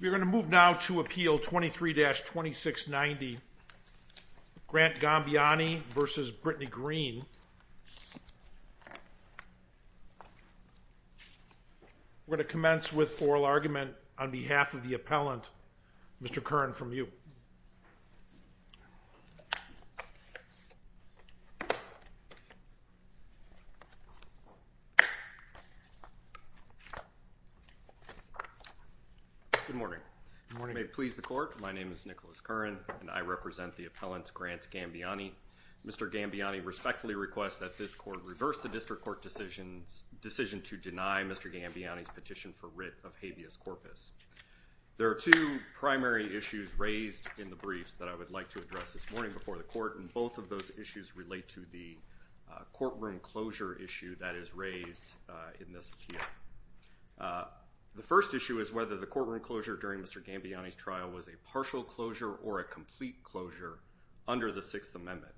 We're going to move now to appeal 23-2690 Grant Gambaiani v. Brittany Greene. We're going to commence with oral argument on behalf of the appellant, Mr. Kern, from you. Nicholas Kern Good morning. May it please the court, my name is Nicholas Kern and I represent the appellant Grant Gambaiani. Mr. Gambaiani respectfully requests that this court reverse the district court decision to deny Mr. Gambaiani's petition for writ of habeas corpus. There are two primary issues raised in the briefs that I would like to address this morning before the court and both of those issues relate to the courtroom closure issue that is raised in this appeal. The first issue is whether the courtroom closure during Mr. Gambaiani's trial was a partial closure or a complete closure under the Sixth Amendment.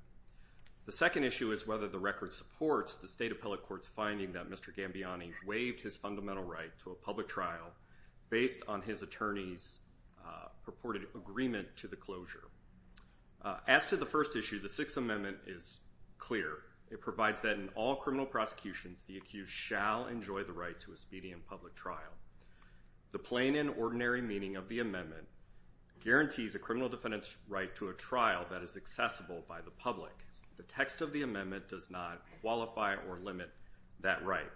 The second issue is whether the record supports the State based on his attorney's purported agreement to the closure. As to the first issue, the Sixth Amendment is clear. It provides that in all criminal prosecutions the accused shall enjoy the right to a speedy and public trial. The plain and ordinary meaning of the amendment guarantees a criminal defendant's right to a trial that is accessible by the public. The text of the amendment does not qualify or limit that right.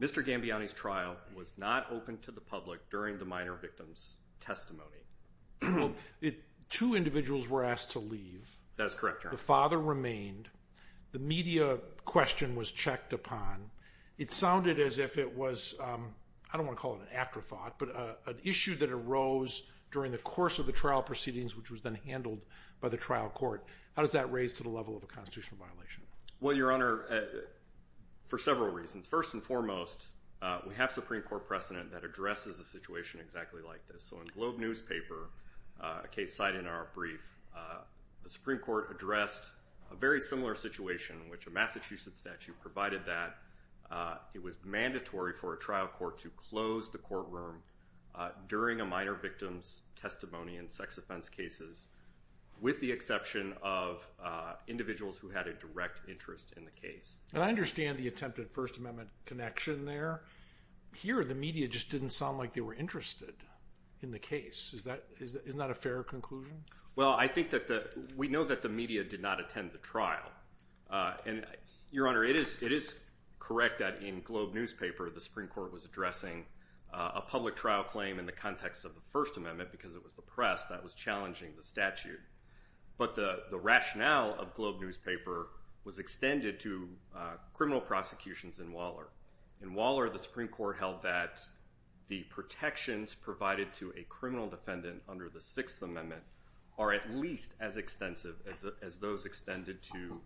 Mr. Gambaiani's trial was not open to the public during the minor victim's testimony. Well, two individuals were asked to leave. That is correct, Your Honor. The father remained. The media question was checked upon. It sounded as if it was, I don't want to call it an afterthought, but an issue that arose during the course of the trial proceedings which was then handled by the trial court. How does that raise to the level of a constitutional violation? Well, Your Honor, for several reasons. First and foremost, we have Supreme Court precedent that addresses a situation exactly like this. So in Globe newspaper, a case cited in our brief, the Supreme Court addressed a very similar situation in which a Massachusetts statute provided that it was mandatory for a trial court to close the courtroom during a minor victim's testimony in sex offense cases with the exception of individuals who had a direct interest in the case. And I understand the attempted First Amendment connection there. Here, the media just didn't sound like they were interested in the case. Isn't that a fair conclusion? Well, I think that the, we know that the media did not attend the trial. And Your Honor, it is correct that in Globe newspaper, the Supreme Court was addressing a public trial claim in the context of the First Amendment because it was the press that was challenging the statute. But the rationale of Globe newspaper was extended to criminal prosecutions in Waller. In Waller, the Supreme Court held that the protections provided to a criminal defendant under the Sixth Amendment are at least as extensive as those extended to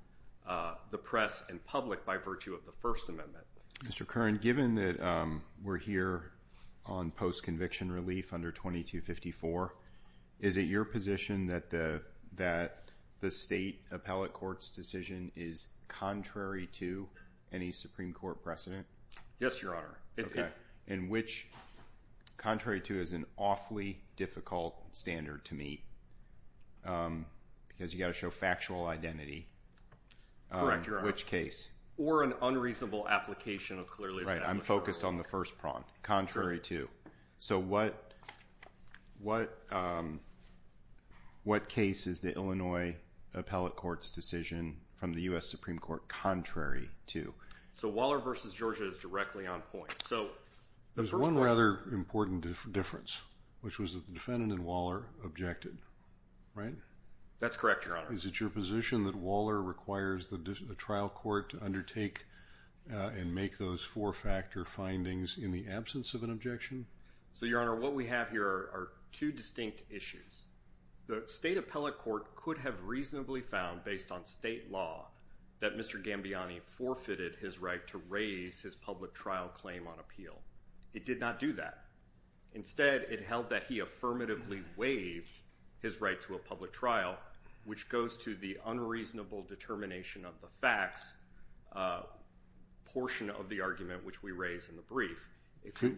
the press and public by virtue of the First Amendment. Mr. Kern, given that we're here on post-conviction relief under 2254, is it your position to that the state appellate court's decision is contrary to any Supreme Court precedent? Yes, Your Honor. In which, contrary to is an awfully difficult standard to meet because you've got to show factual identity. Correct, Your Honor. Which case? Or an unreasonable application of clearly established rules. I'm focused on the first prompt, contrary to. So what case is the Illinois appellate court's decision from the U.S. Supreme Court contrary to? So Waller v. Georgia is directly on point. There's one rather important difference, which was that the defendant in Waller objected. That's correct, Your Honor. Is it your position that Waller requires the trial court to undertake and make those four-factor findings in the absence of an objection? So Your Honor, what we have here are two distinct issues. The state appellate court could have reasonably found, based on state law, that Mr. Gambiani forfeited his right to raise his public trial claim on appeal. It did not do that. Instead, it held that he affirmatively waived his right to a public trial, which goes to the unreasonable determination of the facts portion of the argument which we raise in the brief.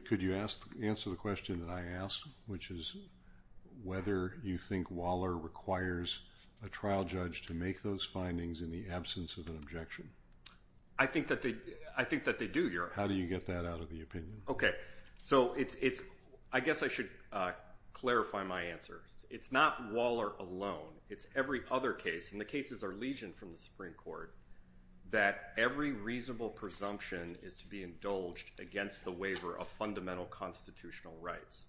Could you answer the question that I asked, which is whether you think Waller requires a trial judge to make those findings in the absence of an objection? I think that they do, Your Honor. How do you get that out of the opinion? Okay. So I guess I should clarify my answer. It's not Waller alone. It's every other case, and the cases are legioned from the Supreme Court, that every reasonable presumption is to be indulged against the waiver of fundamental constitutional rights.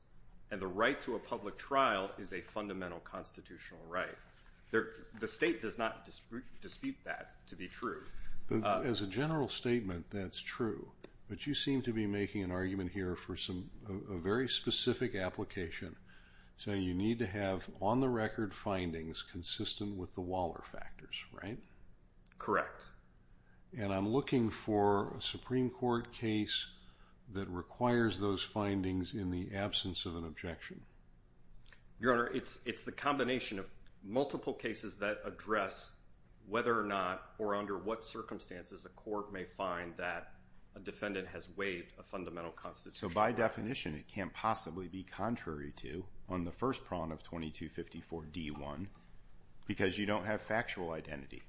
And the right to a public trial is a fundamental constitutional right. The state does not dispute that to be true. As a general statement, that's true, but you seem to be making an argument here for a very specific application, saying you need to have on-the-record findings consistent with the Waller factors, right? Correct. And I'm looking for a Supreme Court case that requires those findings in the absence of an objection. Your Honor, it's the combination of multiple cases that address whether or not or under what circumstances a court may find that a defendant has waived a fundamental constitutional So by definition, it can't possibly be contrary to, on the first prong of 2254 D1, because you don't have factual identity.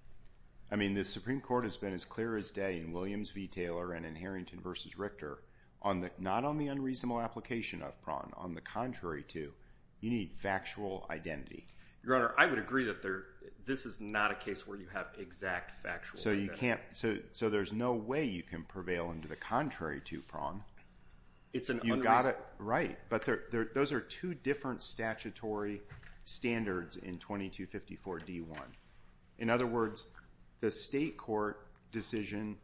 I mean, the Supreme Court has been as clear as day in Williams v. Taylor and in Harrington v. Richter, not on the unreasonable application of prong, on the contrary to, you need factual identity. Your Honor, I would agree that this is not a case where you have exact factual. So there's no way you can prevail under the contrary to prong. It's an unreasonable. Right. But those are two different statutory standards in 2254 D1. In other words, the state court decision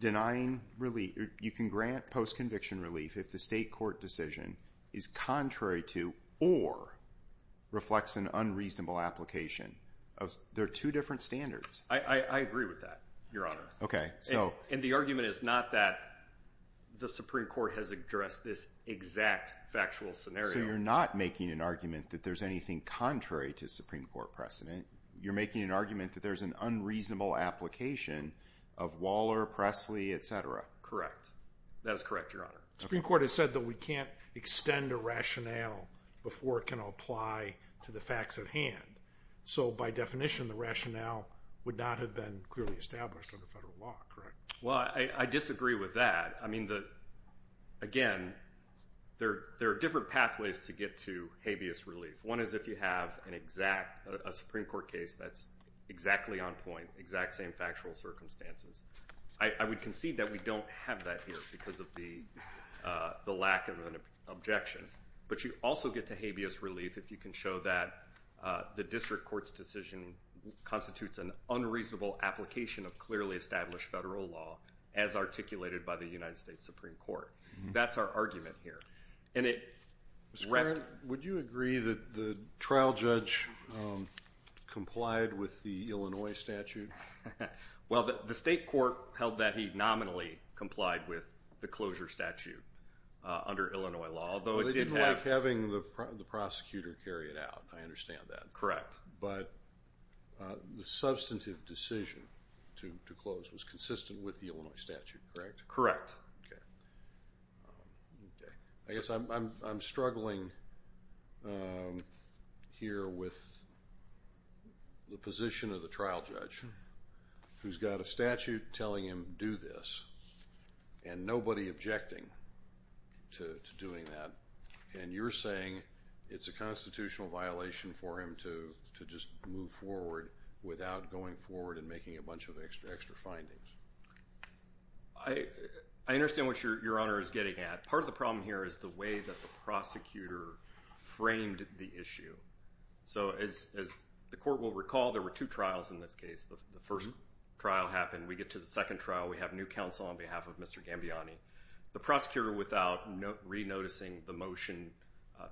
denying relief, you can grant post-conviction relief if the state court decision is contrary to or reflects an unreasonable application. They're two different standards. I agree with that, Your Honor. And the argument is not that the Supreme Court has addressed this exact factual scenario. So you're not making an argument that there's anything contrary to Supreme Court precedent. You're making an argument that there's an unreasonable application of Waller, Presley, etc. Correct. That is correct, Your Honor. The Supreme Court has said that we can't extend a rationale before it can apply to the facts at hand. So by definition, the rationale would not have been clearly established under federal law. Correct. Well, I disagree with that. I mean, again, there are different pathways to get to habeas relief. One is if you have a Supreme Court case that's exactly on point, exact same factual circumstances. I would concede that we don't have that here because of the lack of an objection. But you also get to habeas relief if you can show that the district court's decision constitutes an unreasonable application of clearly established federal law as articulated by the United States Supreme Court. That's our argument here. And it... Mr. Kern, would you agree that the trial judge complied with the Illinois statute? Well, the state court held that he nominally complied with the closure statute under Illinois law, although it did have... Well, they didn't like having the prosecutor carry it out. I understand that. Correct. But the substantive decision to close was consistent with the Illinois statute, correct? Correct. Okay. I guess I'm struggling here with the position of the trial judge who's got a statute telling him to do this and nobody objecting to doing that, and you're saying it's a constitutional violation for him to just move forward without going forward and making a bunch of extra findings. I understand what Your Honor is getting at. Part of the problem here is the way that the prosecutor framed the issue. So as the court will recall, there were two trials in this case. The first trial happened. We get to the second trial. We have new counsel on behalf of Mr. Gambiani. The prosecutor, without re-noticing the motion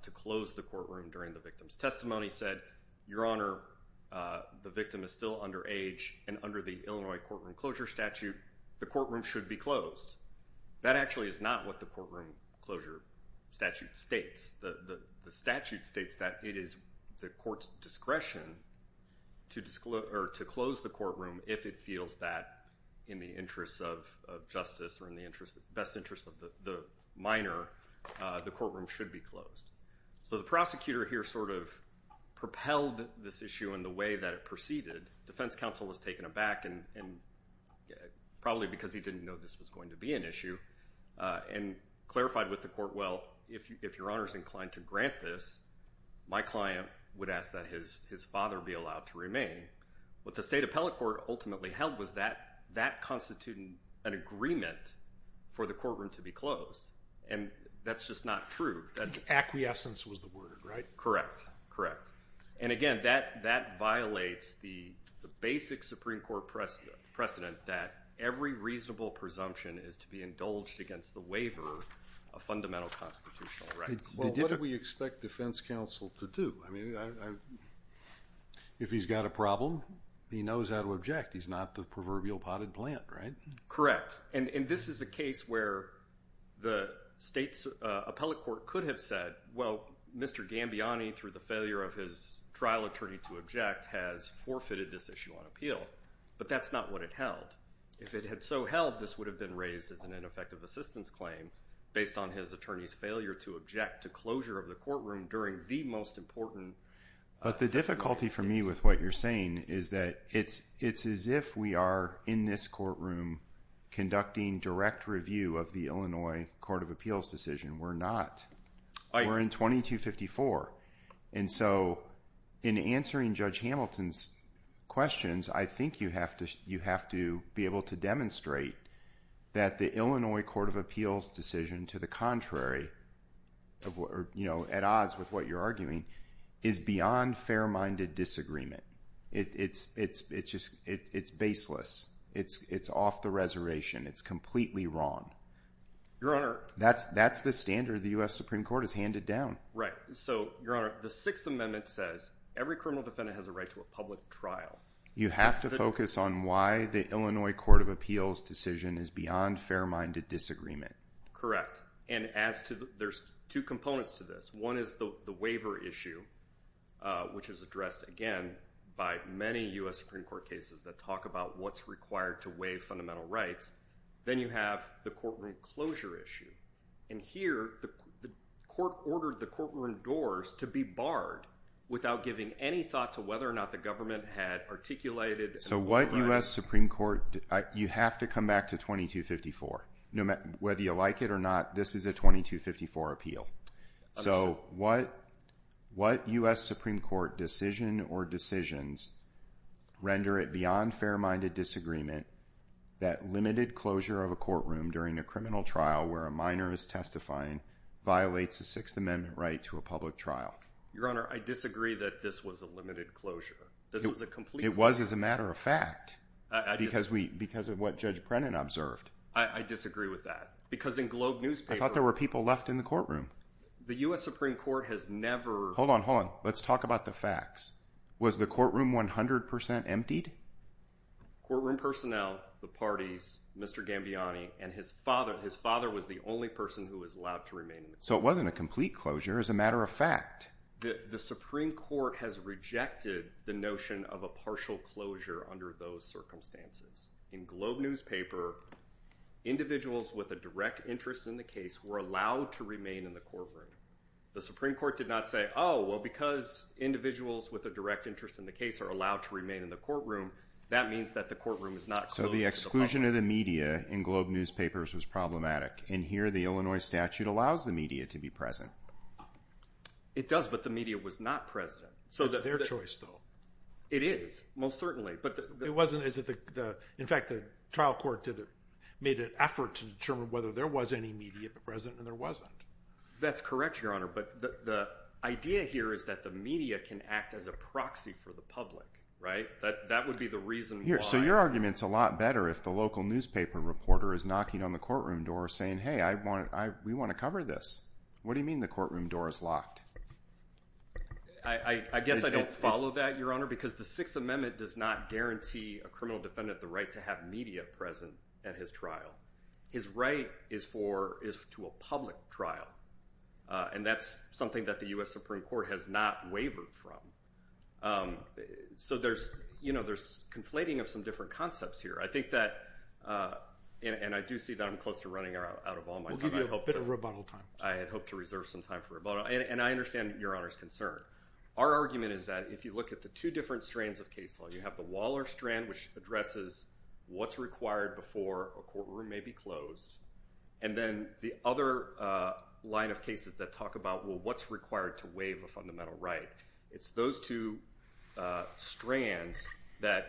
to close the courtroom during the victim's testimony, said, Your Honor, the victim is still underage, and under the Illinois courtroom closure statute, the courtroom should be closed. That actually is not what the courtroom closure statute states. The statute states that it is the court's discretion to close the courtroom if it feels that in the interests of justice or in the best interest of the minor, the courtroom should be closed. So the prosecutor here sort of propelled this issue in the way that it proceeded. Defense counsel was taken aback, probably because he didn't know this was going to be an issue, and clarified with the court, well, if Your Honor is inclined to grant this, my client would ask that his father be allowed to remain. What the State Appellate Court ultimately held was that that constituted an agreement for the courtroom to be closed. And that's just not true. Acquiescence was the word, right? Correct. Correct. And again, that violates the basic Supreme Court precedent that every reasonable presumption is to be indulged against the waiver of fundamental constitutional rights. Well, what did we expect defense counsel to do? I mean, if he's got a problem, he knows how to object. He's not the proverbial potted plant, right? Correct. And this is a case where the State Appellate Court could have said, well, Mr. Gambiani, through the failure of his trial attorney to object, has forfeited this issue on appeal. But that's not what it held. If it had so held, this would have been raised as an ineffective assistance claim based on his attorney's failure to object to closure of the courtroom during the most important... But the difficulty for me with what you're saying is that it's as if we are in this courtroom conducting direct review of the Illinois Court of Appeals decision. We're not. We're in 2254. And so in answering Judge Hamilton's questions, I think you have to be able to demonstrate that the Illinois Court of Appeals decision, to the contrary, at odds with what you're arguing, is beyond fair-minded disagreement. It's baseless. It's off the reservation. It's completely wrong. That's the standard the U.S. Supreme Court has handed down. Right. So, Your Honor, the Sixth Amendment says every criminal defendant has a right to a public trial. You have to focus on why the Illinois Court of Appeals decision is beyond fair-minded disagreement. And there's two components to this. One is the waiver issue, which is addressed, again, by many U.S. Supreme Court cases that talk about what's required to waive fundamental rights. Then you have the courtroom closure issue. And here, the court ordered the courtroom doors to be barred without giving any thought to whether or not the government had articulated and authorized— So what U.S. Supreme Court—you have to come back to 2254. Whether you like it or not, this is a 2254 appeal. So what U.S. Supreme Court decision or decisions render it beyond fair-minded disagreement that limited closure of a courtroom during a criminal trial where a minor is testifying violates a Sixth Amendment right to a public trial? Your Honor, I disagree that this was a limited closure. This was a complete— It was as a matter of fact, because of what Judge Brennan observed. I disagree with that. Because in Globe newspaper— I thought there were people left in the courtroom. The U.S. Supreme Court has never— Hold on, hold on. Let's talk about the facts. Was the courtroom 100% emptied? Courtroom personnel, the parties, Mr. Gambiani, and his father—his father was the only person who was allowed to remain in the courtroom. So it wasn't a complete closure as a matter of fact. The Supreme Court has rejected the notion of a partial closure under those circumstances. In Globe newspaper, individuals with a direct interest in the case were allowed to remain in the courtroom. The Supreme Court did not say, oh, well, because individuals with a direct interest in the case are allowed to remain in the courtroom, that means that the courtroom is not closed So the exclusion of the media in Globe newspapers was problematic. And here, the Illinois statute allows the media to be present. It does, but the media was not present. So that— It's their choice, though. It is, most certainly. But— It wasn't—is it the—in fact, the trial court did—made an effort to determine whether there was any media present, and there wasn't. That's correct, Your Honor. But the idea here is that the media can act as a proxy for the public, right? That would be the reason why— So your argument's a lot better if the local newspaper reporter is knocking on the courtroom door saying, hey, I want—we want to cover this. What do you mean the courtroom door is locked? I guess I don't follow that, Your Honor, because the Sixth Amendment does not guarantee a criminal defendant the right to have media present at his trial. His right is for—is to a public trial. And that's something that the U.S. Supreme Court has not wavered from. So there's, you know, there's conflating of some different concepts here. I think that—and I do see that I'm close to running out of all my time. We'll give you a bit of rebuttal time. I had hoped to reserve some time for rebuttal. And I understand Your Honor's concern. Our argument is that if you look at the two different strands of case law, you have the Waller strand, which addresses what's required before a courtroom may be closed, and then the other line of cases that talk about, well, what's required to waive a fundamental right? It's those two strands that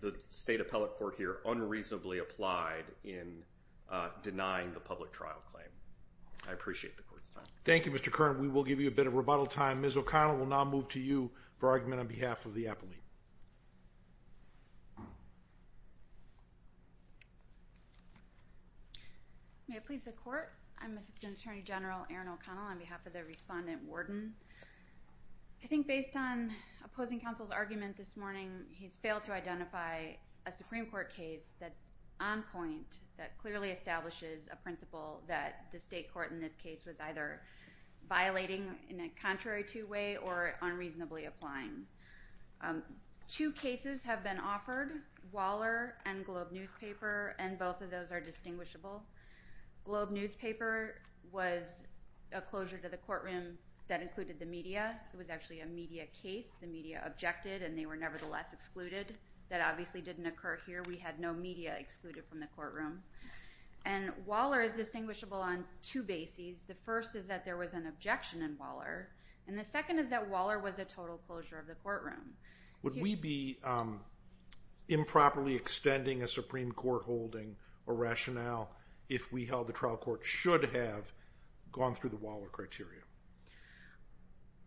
the State Appellate Court here unreasonably applied in denying the public trial claim. I appreciate the Court's time. Thank you, Mr. Kern. We will give you a bit of rebuttal time. Ms. O'Connell, we'll now move to you for argument on behalf of the appellate. May it please the Court? I'm Assistant Attorney General Erin O'Connell on behalf of the Respondent Worden. I think based on opposing counsel's argument this morning, he's failed to identify a Supreme Court case that's on point, that clearly establishes a principle that the State Court in this case was either violating in a contrary to way or unreasonably applying. Two cases have been offered, Waller and Globe Newspaper, and both of those are distinguishable. Globe Newspaper was a closure to the courtroom that included the media. It was actually a media case. The media objected, and they were nevertheless excluded. That obviously didn't occur here. We had no media excluded from the courtroom. And Waller is distinguishable on two bases. The first is that there was an objection in Waller, and the second is that Waller was a total closure of the courtroom. Would we be improperly extending a Supreme Court holding or rationale if we held the trial court should have gone through the Waller criteria?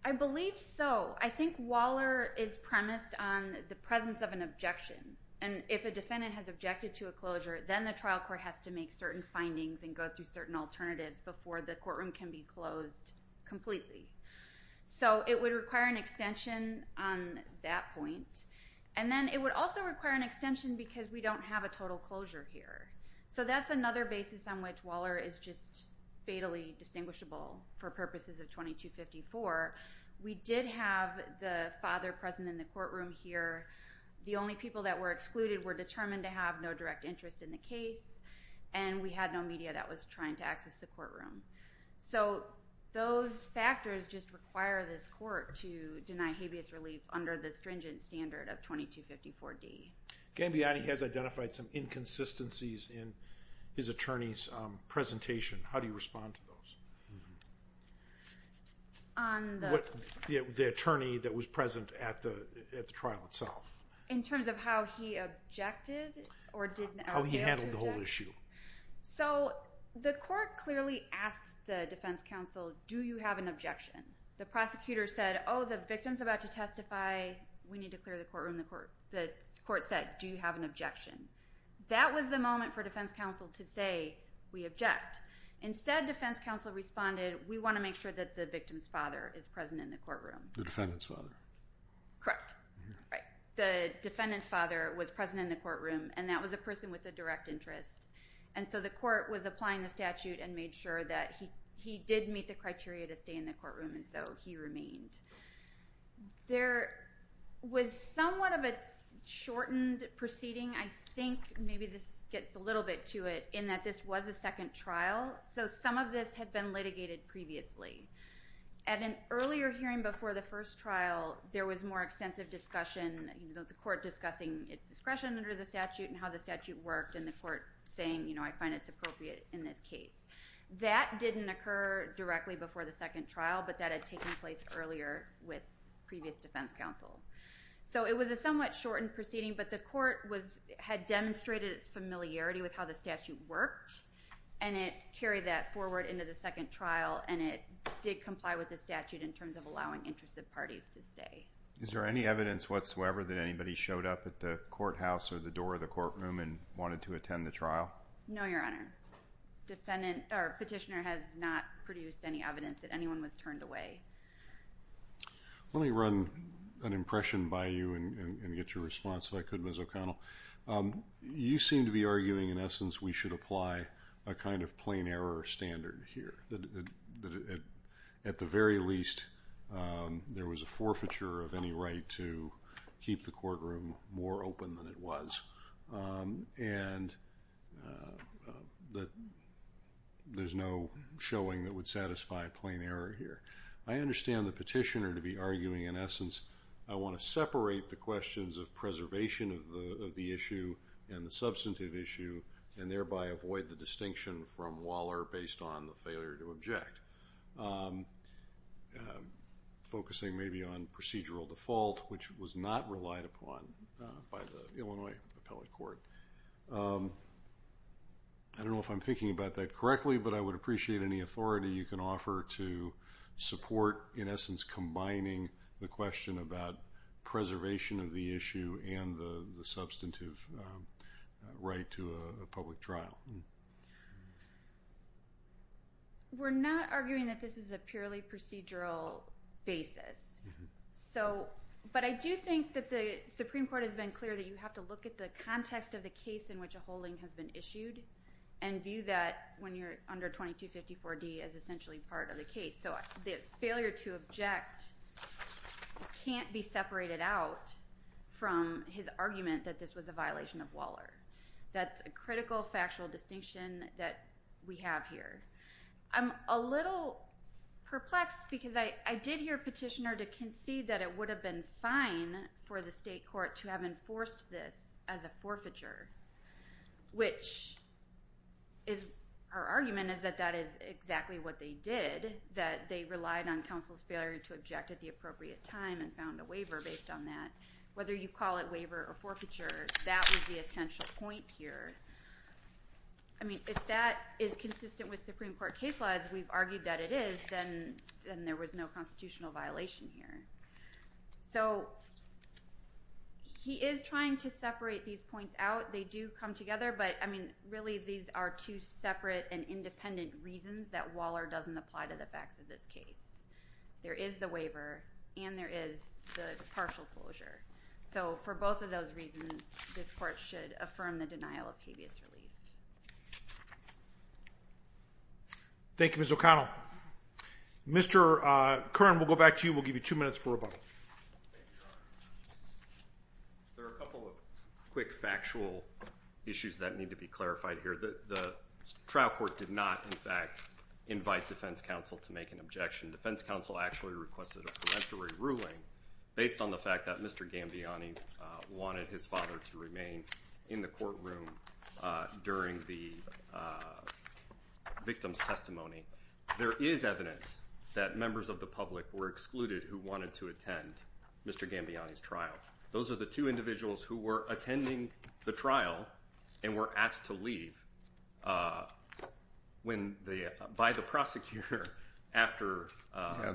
I believe so. I think Waller is premised on the presence of an objection. And if a defendant has objected to a closure, then the trial court has to make certain findings and go through certain alternatives before the courtroom can be closed completely. So it would require an extension on that point. And then it would also require an extension because we don't have a total closure here. So that's another basis on which Waller is just fatally distinguishable for purposes of 2254. We did have the father present in the courtroom here. The only people that were excluded were determined to have no direct interest in the case, and we had no media that was trying to access the courtroom. So those factors just require this court to deny habeas relief under the stringent standard of 2254D. Gambiani has identified some inconsistencies in his attorney's presentation. How do you respond to those? The attorney that was present at the trial itself. In terms of how he objected or how he handled the whole issue? So the court clearly asked the defense counsel, do you have an objection? The prosecutor said, oh, the victim's about to testify. We need to clear the courtroom. The court said, do you have an objection? That was the moment for defense counsel to say, we object. Instead, defense counsel responded, we want to make sure that the victim's father is present in the courtroom. The defendant's father. Correct. Right. The defendant's father was present in the courtroom, and that was a person with a direct interest. And so the court was applying the statute and made sure that he did meet the criteria to stay in the courtroom, and so he remained. There was somewhat of a shortened proceeding, I think, maybe this gets a little bit to it, in that this was a second trial. So some of this had been litigated previously. At an earlier hearing before the first trial, there was more extensive discussion, the court discussing its discretion under the statute and how the statute worked, and the court saying, I find it's appropriate in this case. That didn't occur directly before the second trial, but that had taken place earlier with previous defense counsel. So it was a somewhat shortened proceeding, but the court had demonstrated its familiarity with how the statute worked, and it carried that forward into the second trial, and it did comply with the statute in terms of allowing interested parties to stay. Is there any evidence whatsoever that anybody showed up at the courthouse or the door of the courtroom and wanted to attend the trial? No, Your Honor. Petitioner has not produced any evidence that anyone was turned away. Let me run an impression by you and get your response if I could, Ms. O'Connell. You seem to be arguing, in essence, we should apply a kind of plain error standard here. That at the very least, there was a forfeiture of any right to keep the courtroom more open than it was, and that there's no showing that would satisfy a plain error here. I understand the petitioner to be arguing, in essence, I want to separate the questions of preservation of the issue and the substantive issue, and thereby avoid the distinction from Waller based on the failure to object, focusing maybe on procedural default, which was not relied upon by the Illinois Appellate Court. I don't know if I'm thinking about that correctly, but I would appreciate any authority you can offer to support, in essence, combining the question about preservation of the issue and the substantive right to a public trial. We're not arguing that this is a purely procedural basis, but I do think that the Supreme Court has been clear that you have to look at the context of the case in which a holding has been issued, and view that when you're under 2254D as essentially part of the case. So the failure to object can't be separated out from his argument that this was a violation of Waller. That's a critical factual distinction that we have here. I'm a little perplexed because I did hear a petitioner to concede that it would have been fine for the state court to have enforced this as a forfeiture, which is our argument is that that is exactly what they did, that they relied on counsel's failure to object at the appropriate time and found a waiver based on that. Whether you call it waiver or forfeiture, that was the essential point here. I mean, if that is consistent with Supreme Court case laws, we've argued that it is, then there was no constitutional violation here. So he is trying to separate these points out. They do come together, but I mean, really these are two separate and independent reasons that Waller doesn't apply to the facts of this case. There is the waiver and there is the partial closure. So for both of those reasons, this court should affirm the denial of habeas relief. Thank you, Ms. O'Connell. Mr. Curran, we'll go back to you. We'll give you two minutes for rebuttal. Thank you, Your Honor. There are a couple of quick factual issues that need to be clarified here. The trial court did not, in fact, invite defense counsel to make an objection. Defense counsel actually requested a peremptory ruling based on the fact that Mr. Gambiani wanted his father to remain in the courtroom during the victim's testimony. There is evidence that members of the public were excluded who wanted to attend Mr. Gambiani's Those are the two individuals who were attending the trial and were asked to leave by the prosecutor after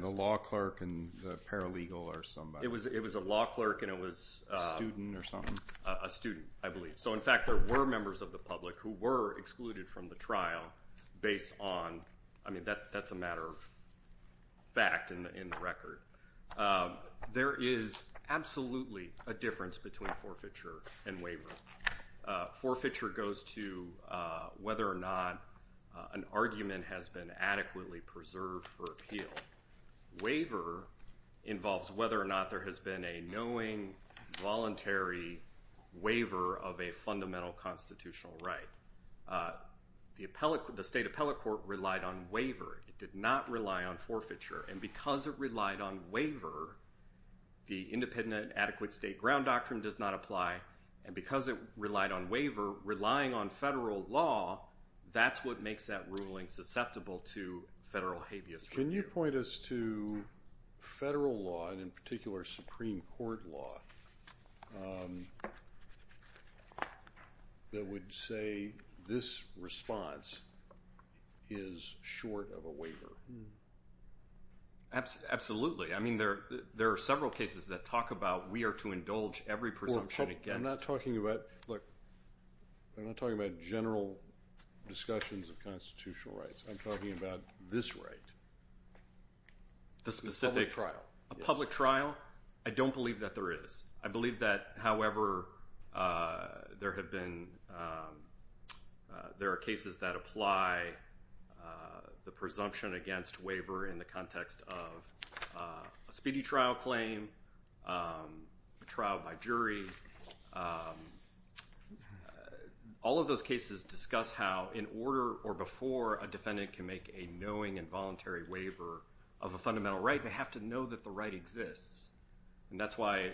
the law clerk and the paralegal or somebody. It was a law clerk and it was a student, I believe. So in fact, there were members of the public who were excluded from the trial based on, I mean, that's a matter of fact in the record. There is absolutely a difference between forfeiture and waiver. Forfeiture goes to whether or not an argument has been adequately preserved for appeal. Waiver involves whether or not there has been a knowing, voluntary waiver of a fundamental constitutional right. The state appellate court relied on waiver. It did not rely on forfeiture. And because it relied on waiver, the independent adequate state ground doctrine does not apply. And because it relied on waiver, relying on federal law, that's what makes that ruling susceptible to federal habeas. Can you point us to federal law and in particular Supreme Court law that would say this response is short of a waiver? Absolutely. I mean, there are several cases that talk about we are to indulge every presumption against. I'm not talking about, look, I'm not talking about general discussions of constitutional rights. I'm talking about this right. The specific. A public trial. I don't believe that there is. I believe that, however, there have been, there are cases that apply the presumption against waiver in the context of a speedy trial claim, a trial by jury. All of those cases discuss how in order or before a defendant can make a knowing and voluntary waiver of a fundamental right, they have to know that the right exists. And that's why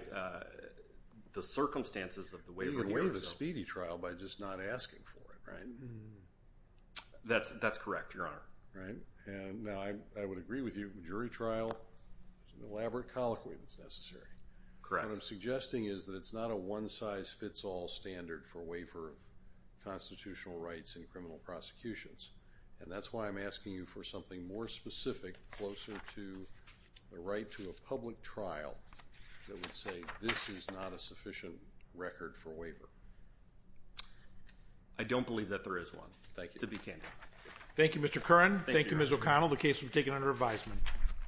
the circumstances of the waiver. You can waive a speedy trial by just not asking for it, right? That's correct, Your Honor. Right. And I would agree with you. A jury trial is an elaborate colloquy that's necessary. Correct. What I'm suggesting is that it's not a one-size-fits-all standard for waiver of constitutional rights in criminal prosecutions. And that's why I'm asking you for something more specific, closer to the right to a public trial that would say this is not a sufficient record for waiver. I don't believe that there is one. Thank you. To be candid. Thank you, Mr. Curran. Thank you, Ms. O'Connell. The case will be taken under advisement.